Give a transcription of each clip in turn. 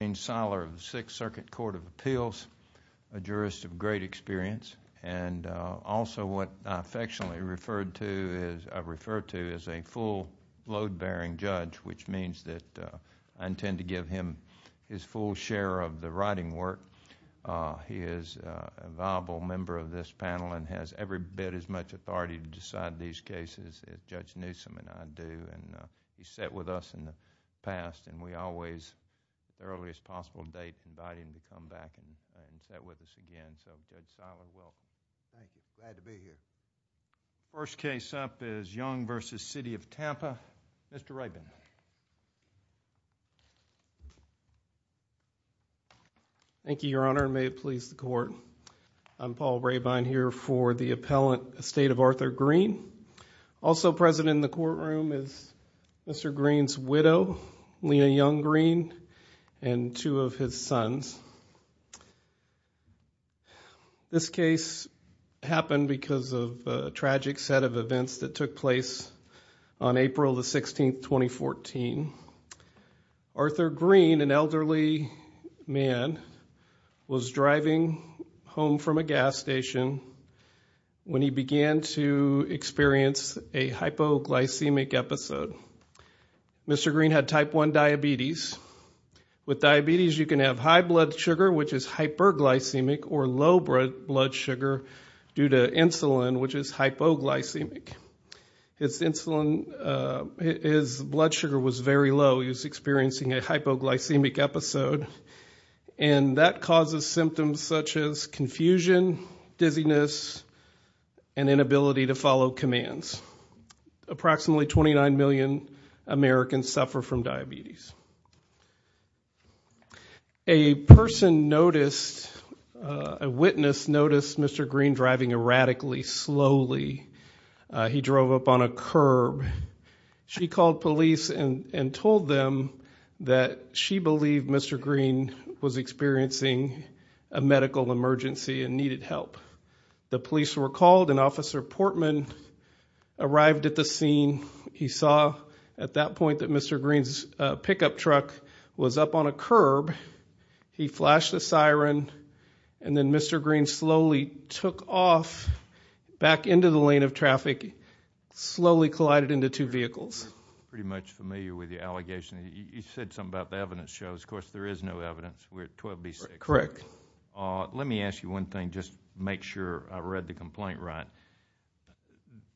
I'm Gene Seiler of the Sixth Circuit Court of Appeals, a jurist of great experience, and also what I affectionately refer to as a full load-bearing judge, which means that I intend to give him his full share of the writing work. He is a viable member of this panel and has every bit as much authority to decide these cases. I look forward to every possible date to invite him to come back and sit with us again. So, Judge Seiler, welcome. Thank you. Glad to be here. First case up is Young v. City of Tampa. Mr. Rabine. Thank you, Your Honor, and may it please the Court, I'm Paul Rabine here for the Appellant Estate of Arthur Green. Also present in the courtroom is Mr. Green's widow, Lena Young Green, and two of his sons. This case happened because of a tragic set of events that took place on April 16, 2014. Arthur Green, an elderly man, was driving home from a gas station when he began to experience a hypoglycemic episode. Mr. Green had type 1 diabetes. With diabetes, you can have high blood sugar, which is hyperglycemic, or low blood sugar due to insulin, which is hypoglycemic. His insulin, his blood sugar was very low, he was experiencing a hypoglycemic episode, and that causes symptoms such as confusion, dizziness, and inability to follow commands. Approximately 29 million Americans suffer from diabetes. A person noticed, a witness noticed Mr. Green driving erratically, slowly. He drove up on a curb. She called police and told them that she believed Mr. Green was experiencing a medical emergency and needed help. The police were called and Officer Portman arrived at the scene. He saw at that point that Mr. Green's pickup truck was up on a curb. He flashed a siren, and then Mr. Green slowly took off back into the lane of traffic, slowly collided into two vehicles. I'm pretty much familiar with the allegation. You said something about the evidence shows, of course there is no evidence. We're at 12B6. Correct. Let me ask you one thing, just to make sure I read the complaint right.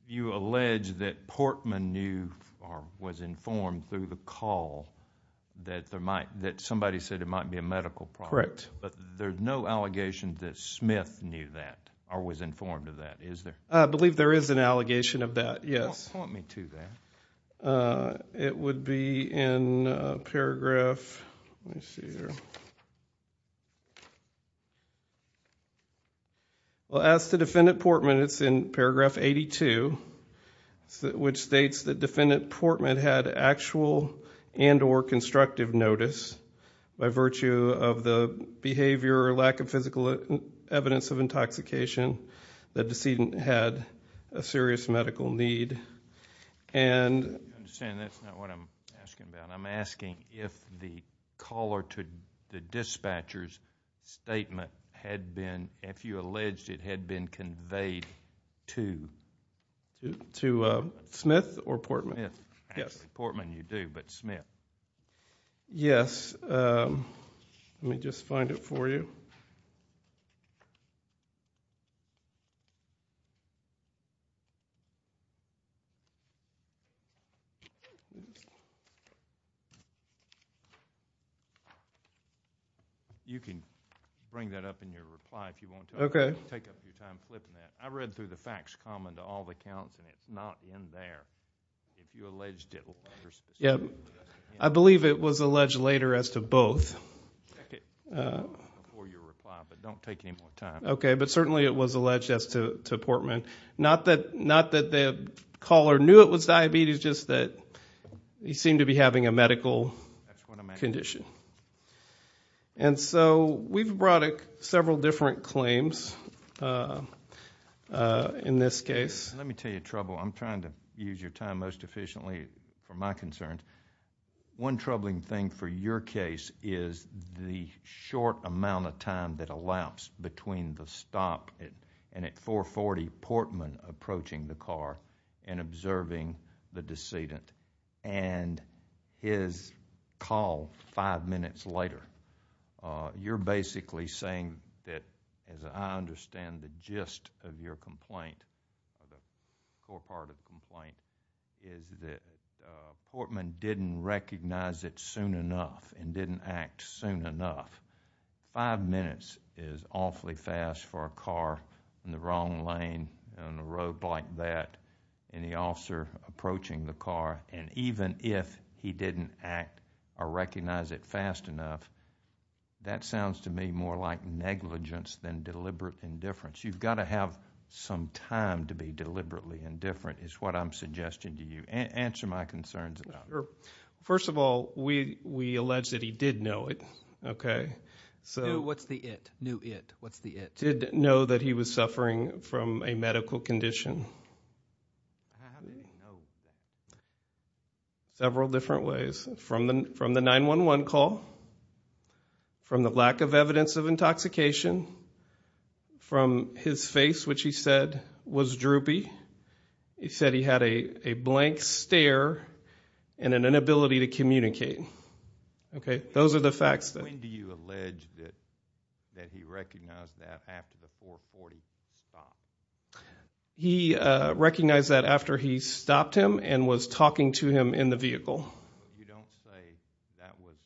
You allege that Portman knew or was informed through the call that somebody said it might be a medical problem. Correct. But there's no allegation that Smith knew that or was informed of that, is there? I believe there is an allegation of that, yes. Don't point me to that. It would be in paragraph... let me see here. Well, as to Defendant Portman, it's in paragraph 82, which states that Defendant Portman had actual and or constructive notice by virtue of the behavior or lack of physical evidence of intoxication. The decedent had a serious medical need and... I understand that's not what I'm asking about. I'm asking if the caller to the dispatcher's statement had been... if you alleged it had been conveyed to... To Smith or Portman? Yes. Actually, Portman you do, but Smith. Yes. Let me just find it for you. You can bring that up in your reply if you want to take up your time flipping that. I read through the facts common to all the counts, and it's not in there, if you alleged it... I believe it was alleged later as to both. Check it before you reply, but don't take any more time. Okay, but certainly it was alleged as to Portman. Not that the caller knew it was diabetes, just that he seemed to be having a medical condition. That's what I'm asking. And so, we've brought several different claims in this case. Let me tell you trouble. I'm trying to use your time most efficiently for my concerns. One troubling thing for your case is the short amount of time that elapsed between the stop and at 440, Portman approaching the car and observing the decedent, and his call five minutes later. You're basically saying that, as I understand the gist of your complaint, or part of the complaint, is that Portman didn't recognize it soon enough and didn't act soon enough. Five minutes is awfully fast for a car in the wrong lane, on a road like that, and the That sounds to me more like negligence than deliberate indifference. You've got to have some time to be deliberately indifferent, is what I'm suggesting to you. Answer my concerns about that. First of all, we allege that he did know it, okay? What's the it? Knew it. What's the it? Did know that he was suffering from a medical condition. Several different ways. From the 911 call, from the lack of evidence of intoxication, from his face, which he said was droopy. He said he had a blank stare and an inability to communicate. Those are the facts. When do you allege that he recognized that after the 440 stopped? He recognized that after he stopped him and was talking to him in the vehicle. You don't say that was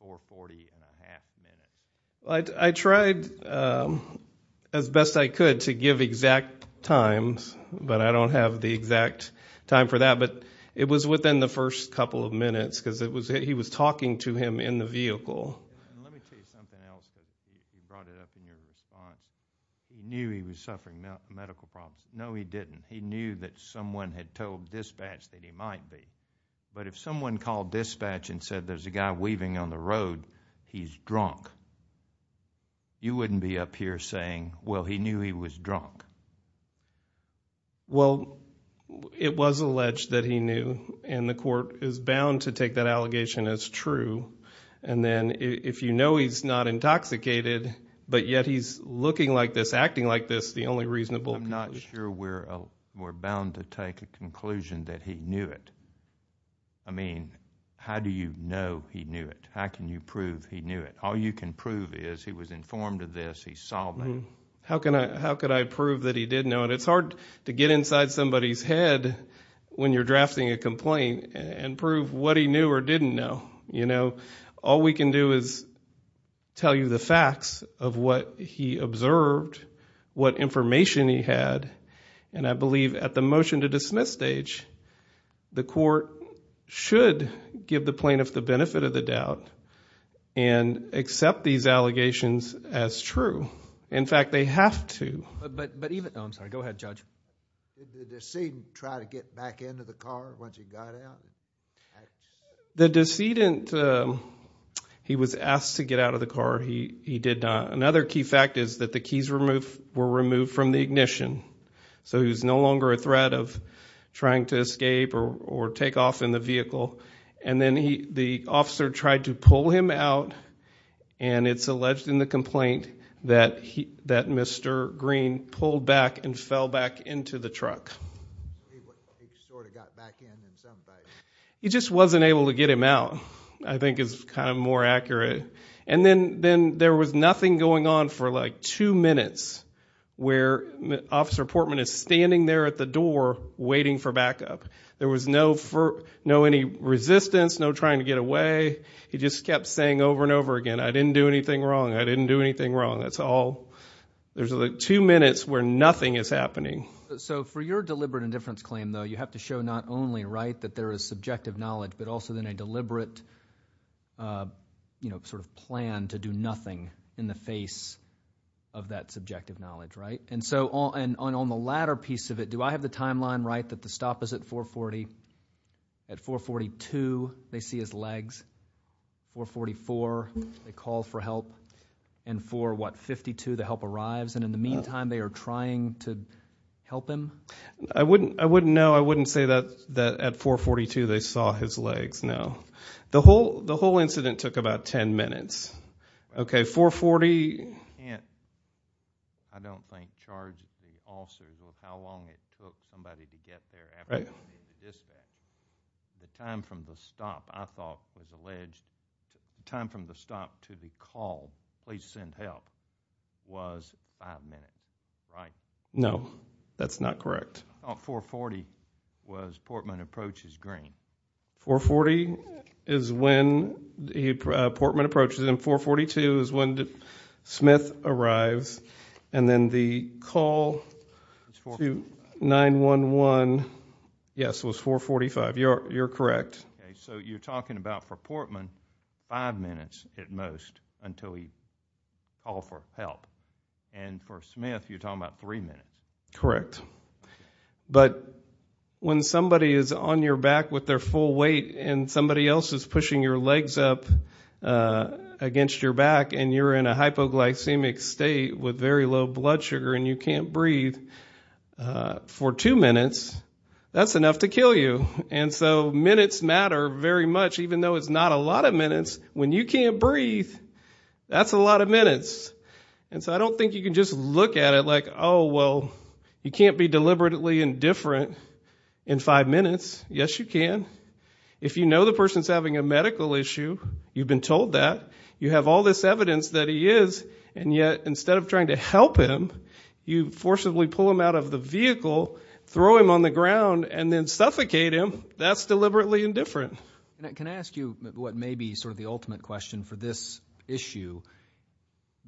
440 and a half minutes. I tried as best I could to give exact times, but I don't have the exact time for that. It was within the first couple of minutes, because he was talking to him in the vehicle. Let me tell you something else, because you brought it up in your response. He knew he was suffering medical problems. No, he didn't. He knew that someone had told dispatch that he might be. If someone called dispatch and said, there's a guy weaving on the road, he's drunk, you wouldn't be up here saying, well, he knew he was drunk. It was alleged that he knew, and the court is bound to take that allegation as true. If you know he's not intoxicated, but yet he's looking like this, acting like this, that's the only reasonable conclusion. I'm not sure we're bound to take a conclusion that he knew it. How do you know he knew it? How can you prove he knew it? All you can prove is he was informed of this, he saw that. How could I prove that he did know it? It's hard to get inside somebody's head when you're drafting a complaint and prove what he knew or didn't know. All we can do is tell you the facts of what he observed, what information he had, and I believe at the motion to dismiss stage, the court should give the plaintiff the benefit of the doubt and accept these allegations as true. In fact, they have to. I'm sorry. Go ahead, Judge. Did the decedent try to get back into the car once he got out? The decedent, he was asked to get out of the car, he did not. Another key fact is that the keys were removed from the ignition, so he was no longer a threat of trying to escape or take off in the vehicle. And then the officer tried to pull him out, and it's alleged in the complaint that Mr. He sort of got back in in some way. He just wasn't able to get him out, I think is kind of more accurate. And then there was nothing going on for like two minutes where Officer Portman is standing there at the door waiting for backup. There was no any resistance, no trying to get away. He just kept saying over and over again, I didn't do anything wrong, I didn't do anything wrong. That's all. There's like two minutes where nothing is happening. So for your deliberate indifference claim, though, you have to show not only, right, that there is subjective knowledge, but also then a deliberate, you know, sort of plan to do nothing in the face of that subjective knowledge, right? And so on the latter piece of it, do I have the timeline, right, that the stop is at 440? At 442, they see his legs, 444, they call for help, and for what, 52, the help arrives and in the meantime they are trying to help him? I wouldn't know. I wouldn't say that at 442 they saw his legs, no. The whole incident took about ten minutes. Okay, 440. And I don't think charged the officers with how long it took somebody to get there after he was dispatched. The time from the stop, I thought was alleged, the time from the stop to the call, please send help, was five minutes, right? No, that's not correct. Oh, 440 was Portman approaches Green. 440 is when Portman approaches him, 442 is when Smith arrives, and then the call to 911, yes, was 445. You're correct. Okay, so you're talking about for Portman, five minutes at most until he called for help, and for Smith, you're talking about three minutes. Correct. But when somebody is on your back with their full weight and somebody else is pushing your legs up against your back and you're in a hypoglycemic state with very low blood sugar and you can't breathe for two minutes, that's enough to kill you. And so minutes matter very much, even though it's not a lot of minutes. When you can't breathe, that's a lot of minutes. And so I don't think you can just look at it like, oh, well, you can't be deliberately indifferent in five minutes. Yes, you can. If you know the person's having a medical issue, you've been told that, you have all this evidence that he is, and yet instead of trying to help him, you forcibly pull him out of the vehicle, throw him on the ground, and then suffocate him, that's deliberately indifferent. Can I ask you what may be sort of the ultimate question for this issue?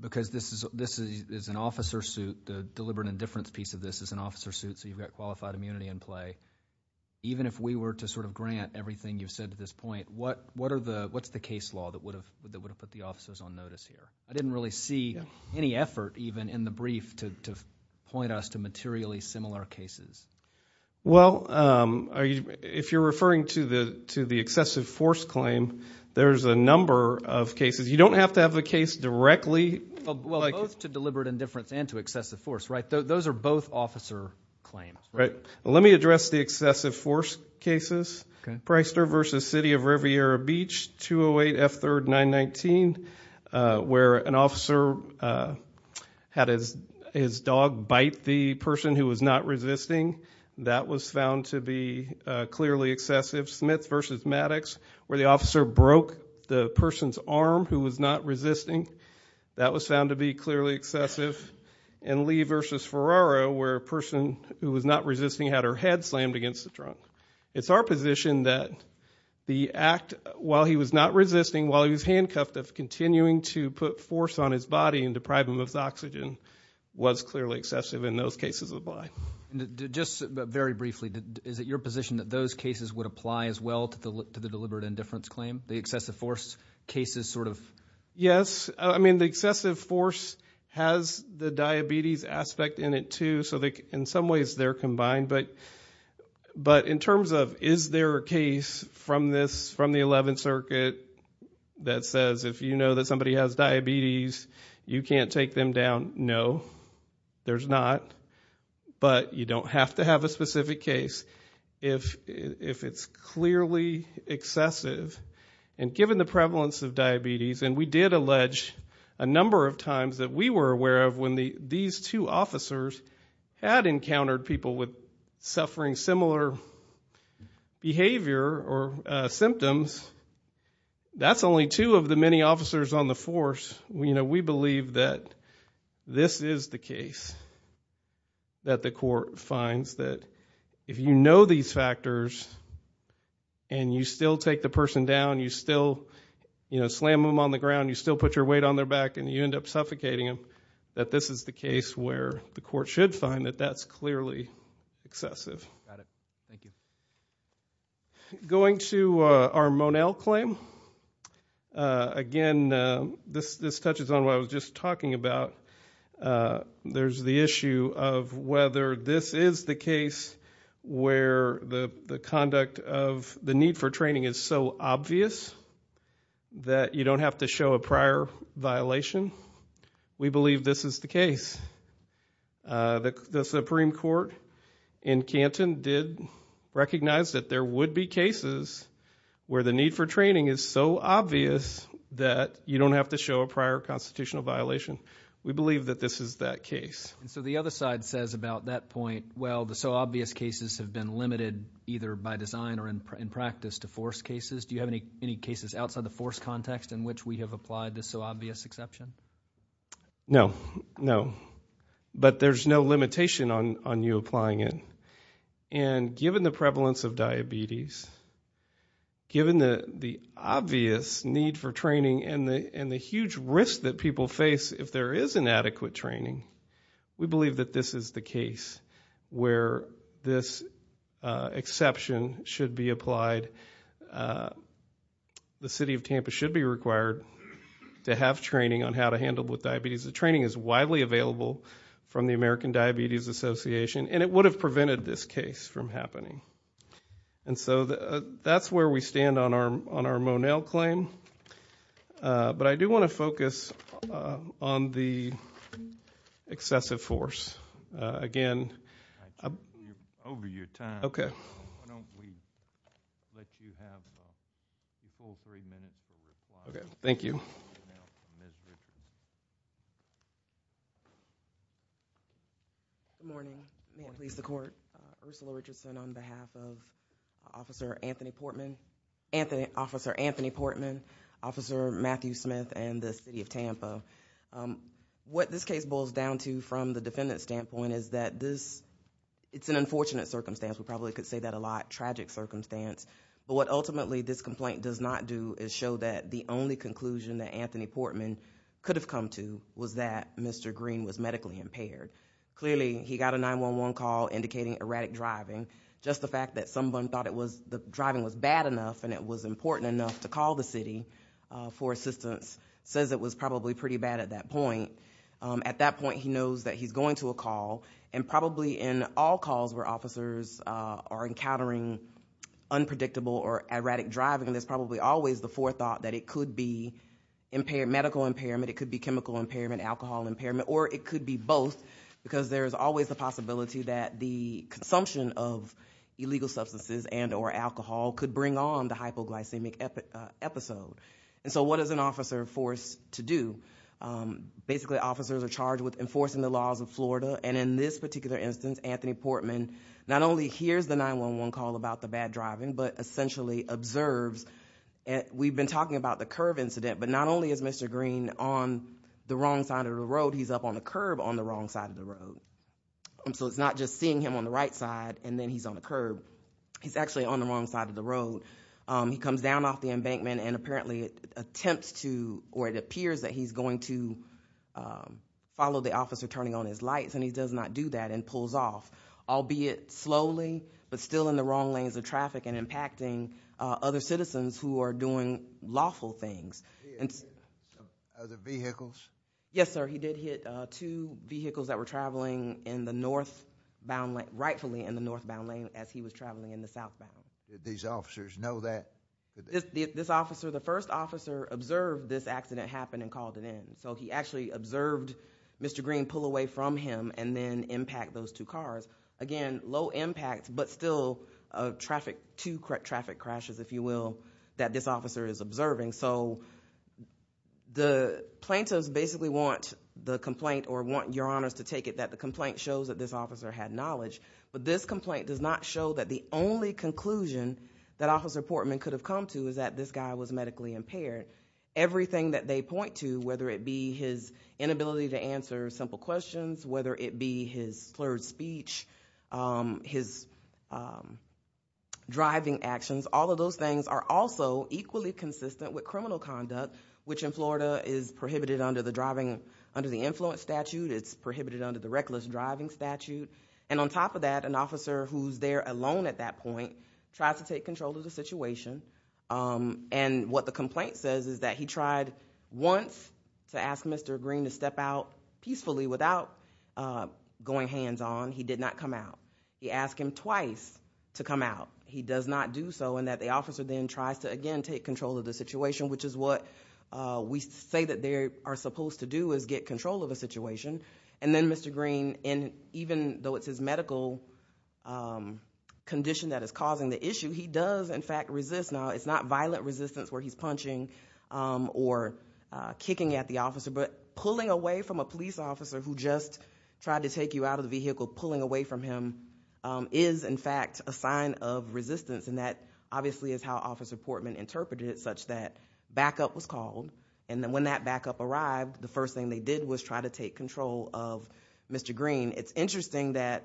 Because this is an officer suit, the deliberate indifference piece of this is an officer suit, so you've got qualified immunity in play. Even if we were to sort of grant everything you've said to this point, what's the case law that would have put the officers on notice here? I didn't really see any effort, even, in the brief to point us to materially similar cases. Well, if you're referring to the excessive force claim, there's a number of cases. You don't have to have the case directly. Well, both to deliberate indifference and to excessive force, right? Those are both officer claims, right? Let me address the excessive force cases. Priester v. City of Riviera Beach, 208 F. 3rd, 919, where an officer had his dog bite the person who was not resisting, that was found to be clearly excessive. Smith v. Maddox, where the officer broke the person's arm who was not resisting, that was found to be clearly excessive. And Lee v. Ferraro, where a person who was not resisting had her head slammed against the trunk. It's our position that the act, while he was not resisting, while he was handcuffed, of continuing to put force on his body and deprive him of his oxygen, was clearly excessive in those cases of the bite. Just very briefly, is it your position that those cases would apply as well to the deliberate indifference claim? The excessive force cases, sort of? Yes. I mean, the excessive force has the diabetes aspect in it, too. So in some ways, they're combined. But in terms of, is there a case from the 11th Circuit that says if you know that somebody has diabetes, you can't take them down, no, there's not. But you don't have to have a specific case if it's clearly excessive. And given the prevalence of diabetes, and we did allege a number of times that we were officers, had encountered people with suffering similar behavior or symptoms, that's only two of the many officers on the force. We believe that this is the case that the court finds, that if you know these factors and you still take the person down, you still slam them on the ground, you still put your weight on their back, and you end up suffocating them, that this is the case where the court should find that that's clearly excessive. Going to our Monell claim, again, this touches on what I was just talking about. There's the issue of whether this is the case where the conduct of the need for training is so obvious that you don't have to show a prior violation. We believe this is the case. The Supreme Court in Canton did recognize that there would be cases where the need for training is so obvious that you don't have to show a prior constitutional violation. We believe that this is that case. And so the other side says about that point, well, the so obvious cases have been limited either by design or in practice to force cases. Do you have any cases outside the force context in which we have applied this so obvious exception? No, no. But there's no limitation on you applying it. And given the prevalence of diabetes, given the obvious need for training and the huge risk that people face if there is inadequate training, we believe that this is the case where this exception should be applied. The city of Tampa should be required to have training on how to handle with diabetes. The training is widely available from the American Diabetes Association and it would have prevented this case from happening. And so that's where we stand on our Monell claim. But I do want to focus on the excessive force. Again, I'm over your time. Okay. Why don't we let you have the full three minutes to reply. Okay. Thank you. Good morning. More police to court. Ursula Richardson on behalf of Officer Anthony Portman, Officer Anthony Portman, Officer Matthew Smith and the city of Tampa. What this case boils down to from the defendant's standpoint is that this, it's an unfortunate circumstance. We probably could say that a lot. Tragic circumstance. But what ultimately this complaint does not do is show that the only conclusion that Anthony Portman could have come to was that Mr. Green was medically impaired. Clearly, he got a 911 call indicating erratic driving. Just the fact that someone thought the driving was bad enough and it was important enough to call the city for assistance says it was probably pretty bad at that point. At that point, he knows that he's going to a call and probably in all calls where officers are encountering unpredictable or erratic driving, there's probably always the forethought that it could be medical impairment, it could be chemical impairment, alcohol impairment, or it could be both because there's always the possibility that the consumption of illegal alcohol could be a part of the epidemic. So what is an officer forced to do? Basically officers are charged with enforcing the laws of Florida and in this particular instance Anthony Portman not only hears the 911 call about the bad driving, but essentially observes, we've been talking about the curb incident, but not only is Mr. Green on the wrong side of the road, he's up on the curb on the wrong side of the road. So it's not just seeing him on the right side and then he's on the curb. He's actually on the wrong side of the road. He comes down off the embankment and apparently attempts to, or it appears that he's going to follow the officer turning on his lights and he does not do that and pulls off. Albeit slowly, but still in the wrong lanes of traffic and impacting other citizens who are doing lawful things. Are there vehicles? Yes sir, he did hit two vehicles that were traveling rightfully in the northbound lane as he was traveling in the southbound. Did these officers know that? This officer, the first officer observed this accident happen and called it in. So he actually observed Mr. Green pull away from him and then impact those two cars. Again, low impact, but still two traffic crashes, if you will, that this officer is observing. So the plaintiffs basically want the complaint or want your honors to take it that the complaint shows that this officer had knowledge, but this complaint does not show that the only conclusion that officer Portman could have come to is that this guy was medically impaired. Everything that they point to, whether it be his inability to answer simple questions, whether it be his slurred speech, his driving actions, all of those things are also equally consistent with criminal conduct, which in Florida is prohibited under the driving, under the influence statute, it's prohibited under the reckless driving statute. And on top of that, an officer who's there alone at that point tries to take control of the situation. And what the complaint says is that he tried once to ask Mr. Green to step out peacefully without going hands on. He did not come out. He asked him twice to come out. He does not do so and that the officer then tries to again take control of the situation, which is what we say that they are supposed to do is get control of a situation. And then Mr. Green, even though it's his medical condition that is causing the issue, he does in fact resist. Now, it's not violent resistance where he's punching or kicking at the officer, but pulling away from a police officer who just tried to take you out of the vehicle, pulling away from him is in fact a sign of resistance and that obviously is how officer Portman interpreted it such that backup was called and then when that backup arrived, the first thing they did was try to take control of Mr. Green. It's interesting that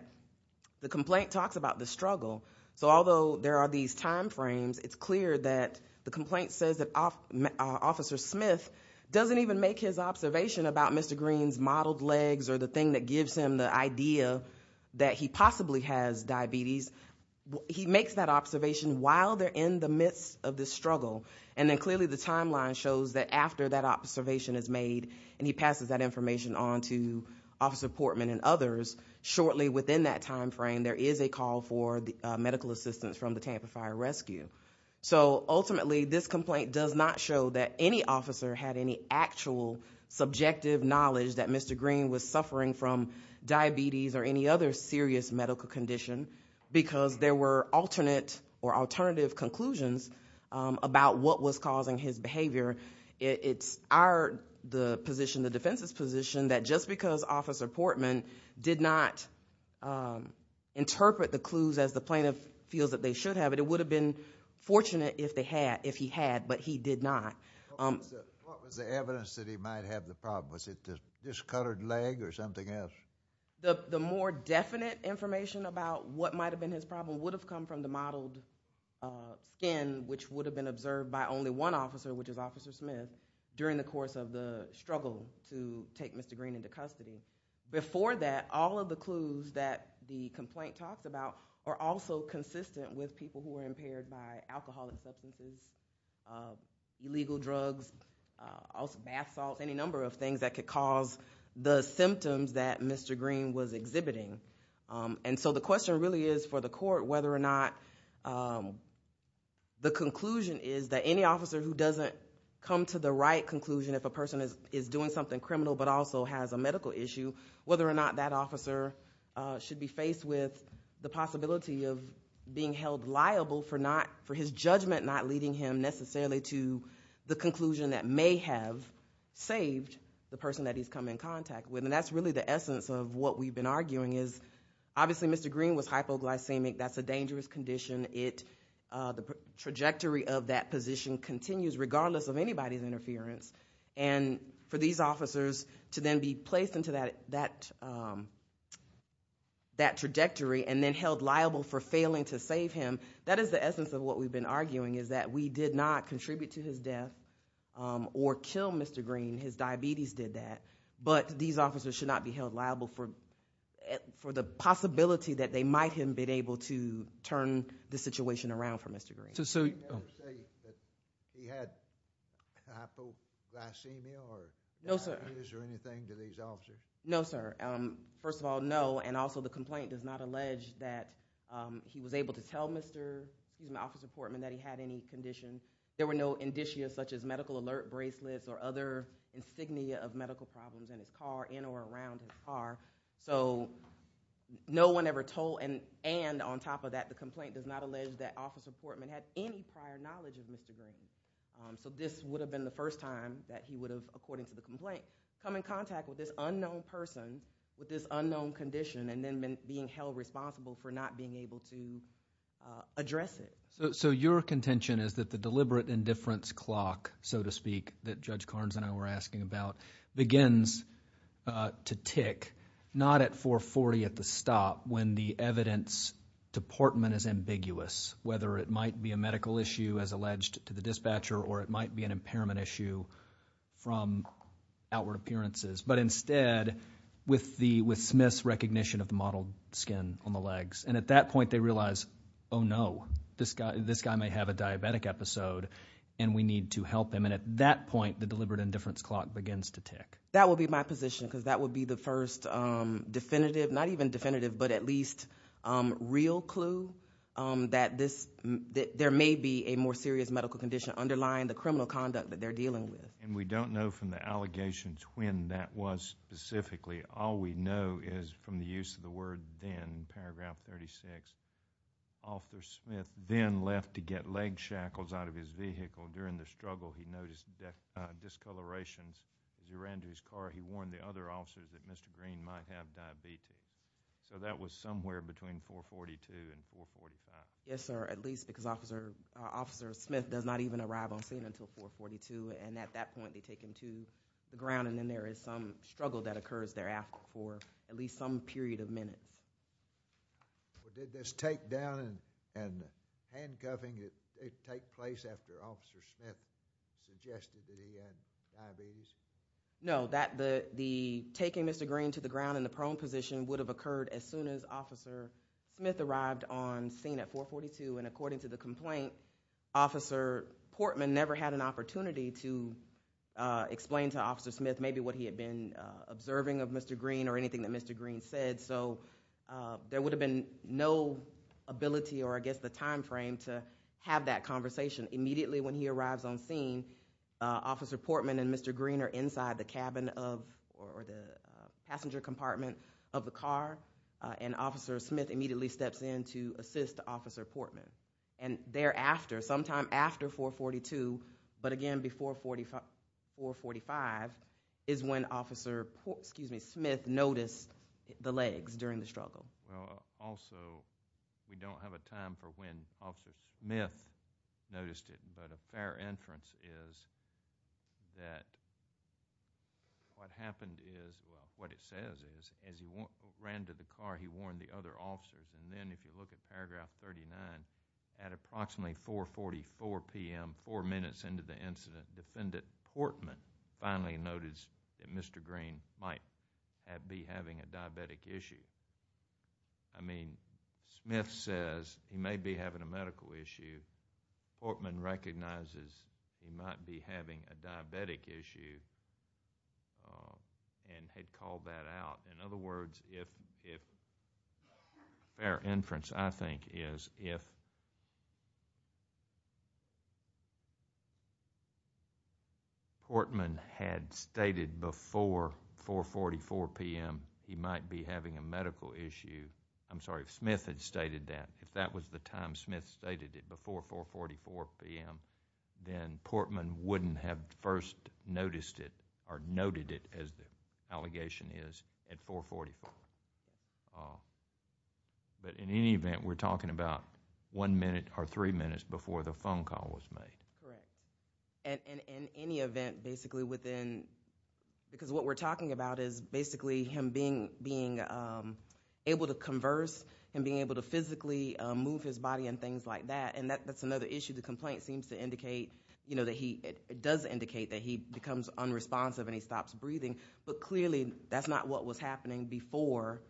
the complaint talks about the struggle. So although there are these timeframes, it's clear that the complaint says that Officer Smith doesn't even make his observation about Mr. Green's mottled legs or the thing that gives him the idea that he possibly has diabetes. He makes that observation while they're in the midst of this struggle and then clearly the timeline shows that after that observation is made and he passes that information on to Officer Portman and others, shortly within that timeframe there is a call for medical assistance from the Tampa Fire Rescue. So ultimately this complaint does not show that any officer had any actual subjective knowledge that Mr. Green was suffering from diabetes or any other serious medical condition because there were alternate or alternative conclusions about what was causing his behavior. It's our position, the defense's position, that just because Officer Portman did not interpret the clues as the plaintiff feels that they should have, it would have been fortunate if he had, but he did not. What was the evidence that he might have the problem? Was it the discolored leg or something else? The more definite information about what might have been his problem would have come from the mottled skin which would have been observed by only one officer, which is Officer Smith, during the course of the struggle to take Mr. Green into custody. Before that, all of the clues that the complaint talked about are also consistent with people who are impaired by alcohol, illegal drugs, bath salts, any number of things that could cause the symptoms that Mr. Green was exhibiting. And so the question really is for the court whether or not the conclusion is that any officer who doesn't come to the right conclusion if a person is doing something criminal but also has a medical issue, whether or not that officer should be faced with the possibility of being held liable for his judgment not leading him necessarily to the conclusion that may have saved the person that he's come in contact with. And that's really the essence of what we've been arguing is obviously Mr. Green was hypoglycemic. That's a dangerous condition. The trajectory of that position continues regardless of anybody's interference. And for these officers to then be placed into that trajectory and then held liable for failing to save him, that is the essence of what we've been arguing is that we did not contribute to his death or kill Mr. Green. His diabetes did that. But these officers should not be held liable for the possibility that they might have been able to turn the situation around for Mr. Green. So you're saying that he had hypoglycemia or diabetes or anything to these officers? No sir. First of all, no. And also the complaint does not allege that he was able to tell Officer Portman that he had any conditions. There were no indicia such as medical alert bracelets or other insignia of medical problems in his car, in or around his car. So no one ever told, and on top of that, the complaint does not allege that Officer Portman had any prior knowledge of Mr. Green. So this would have been the first time that he would have, according to the complaint, come in contact with this unknown person with this unknown condition and then being held responsible for not being able to address it. So your contention is that the deliberate indifference clock, so to speak, that Judge Carnes and I were asking about, begins to tick not at 440 at the stop when the evidence to Portman is ambiguous, whether it might be a medical issue as alleged to the dispatcher or it might be an impairment issue from outward appearances, but instead with Smith's recognition and at that point they realize, oh no, this guy may have a diabetic episode and we need to help him. And at that point, the deliberate indifference clock begins to tick. That would be my position because that would be the first definitive, not even definitive, but at least real clue that there may be a more serious medical condition underlying the criminal conduct that they're dealing with. And we don't know from the allegations when that was specifically. All we know is from the use of the word then, paragraph 36, Officer Smith then left to get leg shackles out of his vehicle during the struggle. He noticed discolorations as he ran to his car. He warned the other officers that Mr. Green might have diabetes. So that was somewhere between 442 and 445. Yes, sir, at least because Officer Smith does not even arrive on scene until 442 and at that point they take him to the ground and then there is some struggle that occurs there for at least some period of minutes. Did this take down and handcuffing take place after Officer Smith suggested he had diabetes? No, that the taking Mr. Green to the ground in the prone position would have occurred as soon as Officer Smith arrived on scene at 442 and according to the complaint, Officer Portman never had an opportunity to explain to Officer Smith maybe what he had been observing of Mr. Green or anything that Mr. Green said. So there would have been no ability or I guess the time frame to have that conversation. Immediately when he arrives on scene, Officer Portman and Mr. Green are inside the cabin of or the passenger compartment of the car and Officer Smith immediately steps in to assist Officer Portman. And thereafter, sometime after 442, but again before 445, is when Officer Smith noticed the legs during the struggle. Also, we don't have a time for when Officer Smith noticed it, but a fair inference is that what happened is, what it says is, as he ran to the car, he warned the other officers and then if you look at paragraph 39, at approximately 444 p.m., four minutes into the incident, Defendant Portman finally noticed that Mr. Green might be having a diabetic issue. I mean, Smith says he may be having a medical issue. Portman recognizes he might be having a diabetic issue and had called that out. In other words, if, a fair inference I think is, if Portman had stated before 444 p.m. he might be having a medical issue, I'm sorry, if Smith had stated that, if that was the time Smith stated it before 444 p.m., then Portman wouldn't have first noticed it or would have called that out. In any event, we're talking about one minute or three minutes before the phone call was made. Correct. In any event, basically within, because what we're talking about is basically him being able to converse and being able to physically move his body and things like that and that's another issue. The complaint seems to indicate that he, it does indicate that he becomes unresponsive and he stops breathing, but clearly that's not what was happening before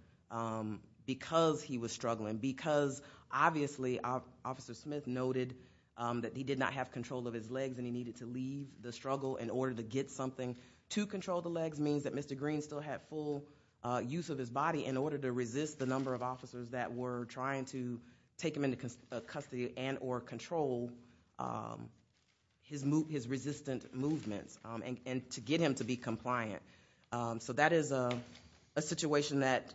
because he was struggling, because obviously Officer Smith noted that he did not have control of his legs and he needed to leave the struggle in order to get something to control the legs means that Mr. Green still had full use of his body in order to resist the number of officers that were trying to take him into custody and or control his resistant movements and to get him to be compliant. That is a situation that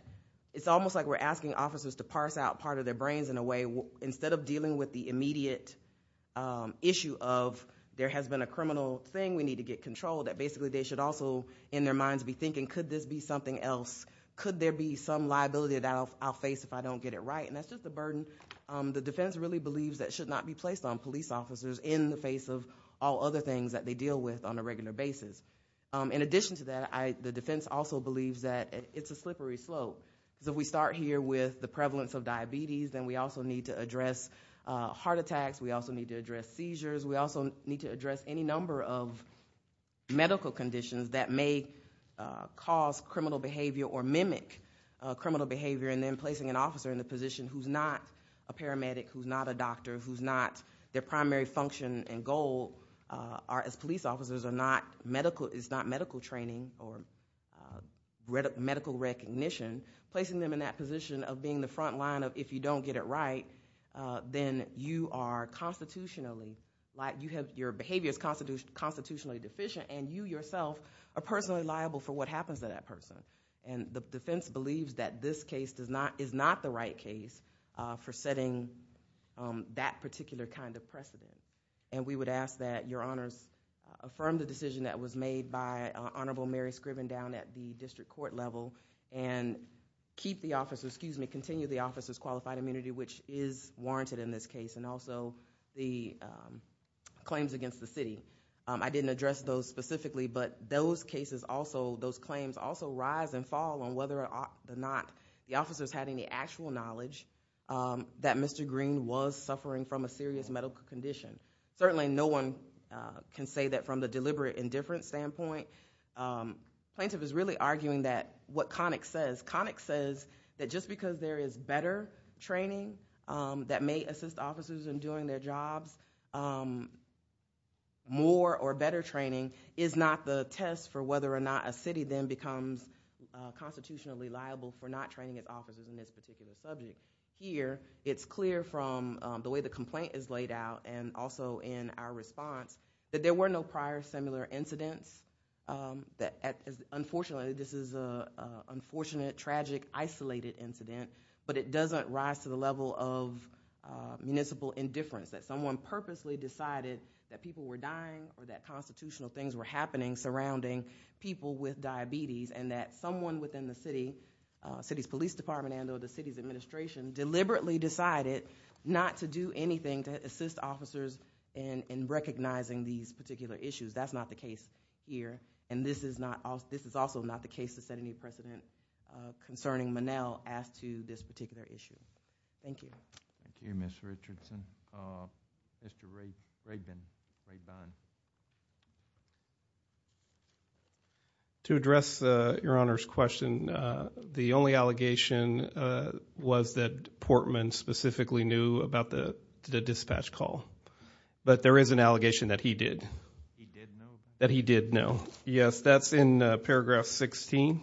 it's almost like we're asking officers to parse out part of their brains in a way instead of dealing with the immediate issue of there has been a criminal thing, we need to get control, that basically they should also in their minds be thinking could this be something else, could there be some liability that I'll face if I don't get it right. That's just a burden the defense really believes that should not be placed on police officers in the face of all other things that they deal with on a regular basis. In addition to that, the defense also believes that it's a slippery slope, that we start here with the prevalence of diabetes and we also need to address heart attacks, we also need to address seizures, we also need to address any number of medical conditions that may cause criminal behavior or mimic criminal behavior and then placing an officer in a position where their function and goal as police officers is not medical training or medical recognition, placing them in that position of being the front line of if you don't get it right, then your behavior is constitutionally deficient and you yourself are personally liable for what happens to that person. The defense believes that this case is not the right case for setting that particular kind of precedent and we would ask that your honors affirm the decision that was made by Honorable Mary Scriven down at the district court level and continue the officer's qualified immunity which is warranted in this case and also the claims against the city. I didn't address those specifically but those claims also rise and fall on whether or not the officers had any actual knowledge that Mr. Green was suffering from a serious medical condition. Certainly no one can say that from the deliberate indifference standpoint. Plaintiff is really arguing that what Connick says, Connick says that just because there is better training that may assist officers in doing their jobs, more or better training is not the test for whether or not a city then becomes constitutionally liable for not training its officers in this particular subject. Here, it's clear from the way the complaint is laid out and also in our response that there were no prior similar incidents. Unfortunately, this is an unfortunate, tragic, isolated incident but it doesn't rise to the level of municipal indifference that someone purposely decided that people were dying or that constitutional things were happening surrounding people with diabetes and that someone within the city's police department and or the city's administration deliberately decided not to do anything to assist officers in recognizing these particular issues. That's not the case here and this is also not the case to set any precedent concerning Monell as to this particular issue. Thank you. Thank you, Mr. Richardson. Mr. Raybon. To address Your Honor's question, the only allegation was that Portman specifically knew about the dispatch call but there is an allegation that he did. He did know? That he did know. Yes, that's in paragraph 16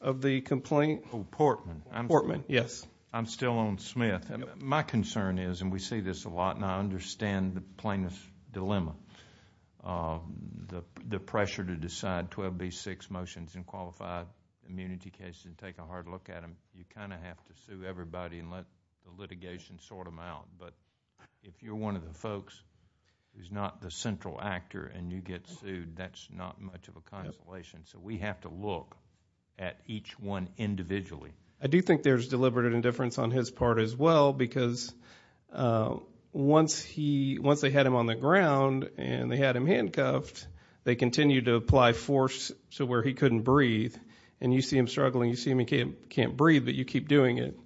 of the complaint. Oh, Portman. Portman, yes. I'm still on Smith. My concern is, and we see this a lot and I understand the plaintiff's dilemma, the pressure to decide 12B6 motions in qualified immunity cases and take a hard look at them. You kind of have to sue everybody and let the litigation sort them out but if you're one of the folks who's not the central actor and you get sued, that's not much of a consolation so we have to look at each one individually. I do think there's deliberate indifference on his part as well because once they had him on the ground and they had him handcuffed, they continued to apply force to where he couldn't breathe and you see him struggling, you see him, he can't breathe but you keep doing it.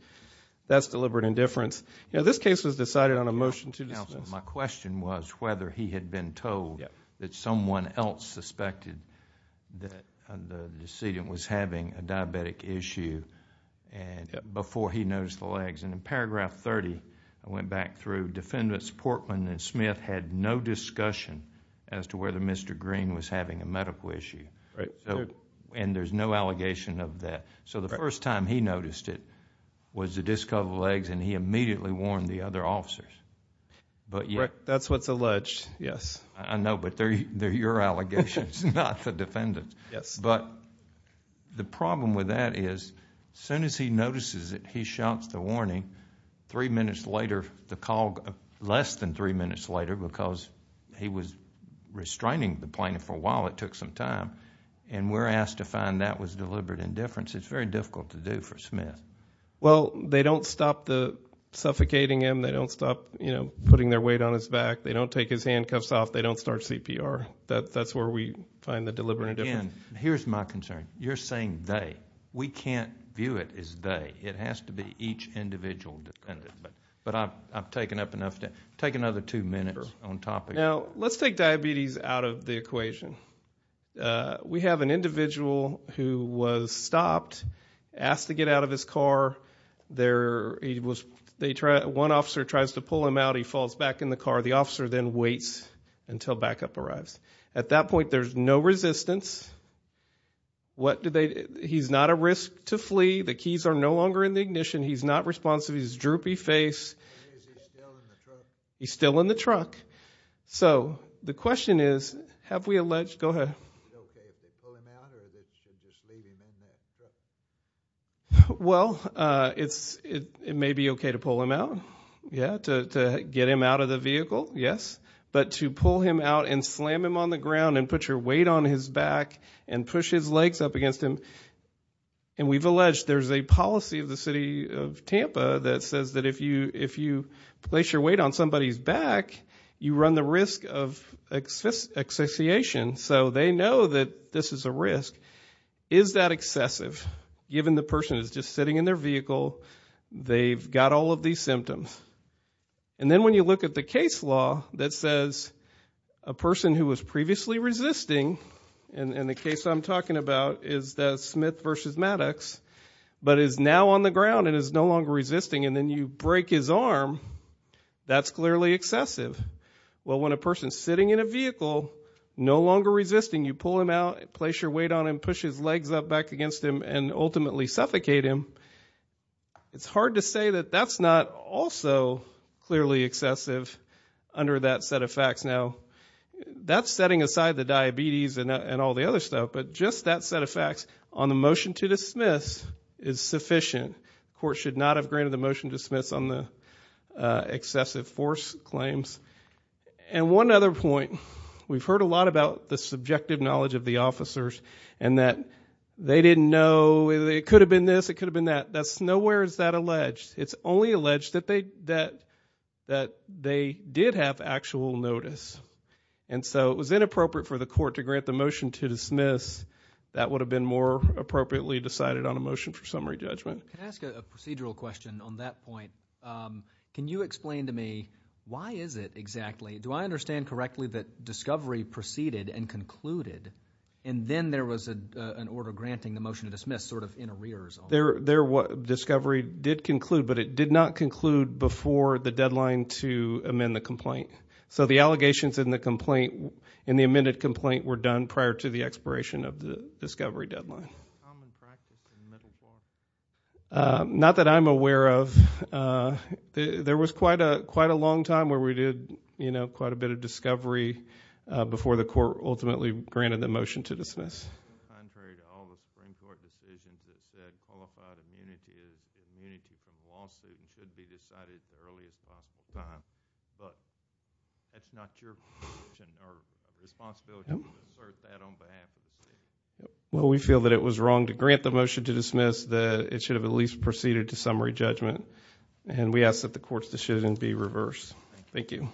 That's deliberate indifference. This case was decided on a motion to dismiss. Counsel, my question was whether he had been told that someone else suspected that the before he noticed the legs. In paragraph 30, I went back through, defendants Portman and Smith had no discussion as to whether Mr. Green was having a medical issue and there's no allegation of that. The first time he noticed it was the discovered legs and he immediately warned the other officers. That's what's alleged, yes. I know but they're your allegations, not the defendant's. Yes. The problem with that is as soon as he notices it, he shouts the warning. Three minutes later, the call, less than three minutes later because he was restraining the plaintiff for a while, it took some time and we're asked to find that was deliberate indifference. It's very difficult to do for Smith. Well, they don't stop the suffocating him. They don't stop putting their weight on his back. They don't take his handcuffs off. They don't start CPR. That's where we find the deliberate indifference. Again, here's my concern. You're saying they. We can't view it as they. It has to be each individual defendant but I've taken up enough time. Take another two minutes on topic. Now, let's take diabetes out of the equation. We have an individual who was stopped, asked to get out of his car. One officer tries to pull him out. He falls back in the car. The officer then waits until backup arrives. At that point, there's no resistance. What do they. He's not a risk to flee. The keys are no longer in the ignition. He's not responsive. He's droopy face. He's still in the truck. So, the question is, have we alleged. Go ahead. Well, it may be okay to pull him out. Yeah, to get him out of the vehicle. Yes. But to pull him out and slam him on the ground and put your weight on his back and push his legs up against him. And we've alleged there's a policy of the city of Tampa that says that if you, if you place your weight on somebody's back, you run the risk of access association. So, they know that this is a risk. Is that excessive? Given the person is just sitting in their vehicle. They've got all of these symptoms. And then when you look at the case law that says a person who was previously resisting. And the case I'm talking about is the Smith versus Maddox. But is now on the ground and is no longer resisting. And then you break his arm. That's clearly excessive. Well, when a person sitting in a vehicle, no longer resisting, you pull him out, place your weight on him, push his legs up back against him and ultimately suffocate him. It's hard to say that that's not also clearly excessive under that set of facts. Now, that's setting aside the diabetes and all the other stuff. But just that set of facts on the motion to dismiss is sufficient. The court should not have granted the motion to dismiss on the excessive force claims. And one other point, we've heard a lot about the subjective knowledge of the officers and that they didn't know, it could have been this, it could have been that. Nowhere is that alleged. It's only alleged that they did have actual notice. And so it was inappropriate for the court to grant the motion to dismiss. That would have been more appropriately decided on a motion for summary judgment. Can I ask a procedural question on that point? Can you explain to me why is it exactly, do I understand correctly that discovery proceeded and concluded and then there was an order granting the discovery did conclude, but it did not conclude before the deadline to amend the complaint. So the allegations in the complaint, in the amended complaint were done prior to the expiration of the discovery deadline. Common practice in the middle court? Not that I'm aware of. There was quite a long time where we did quite a bit of discovery before the court ultimately granted the motion to dismiss. Contrary to all the Supreme Court decisions that said qualified immunity is immunity from lawsuit should be decided as early as possible time. But that's not your position or responsibility to disperse that on behalf of the state. Well, we feel that it was wrong to grant the motion to dismiss, that it should have at least proceeded to summary judgment. Thank you.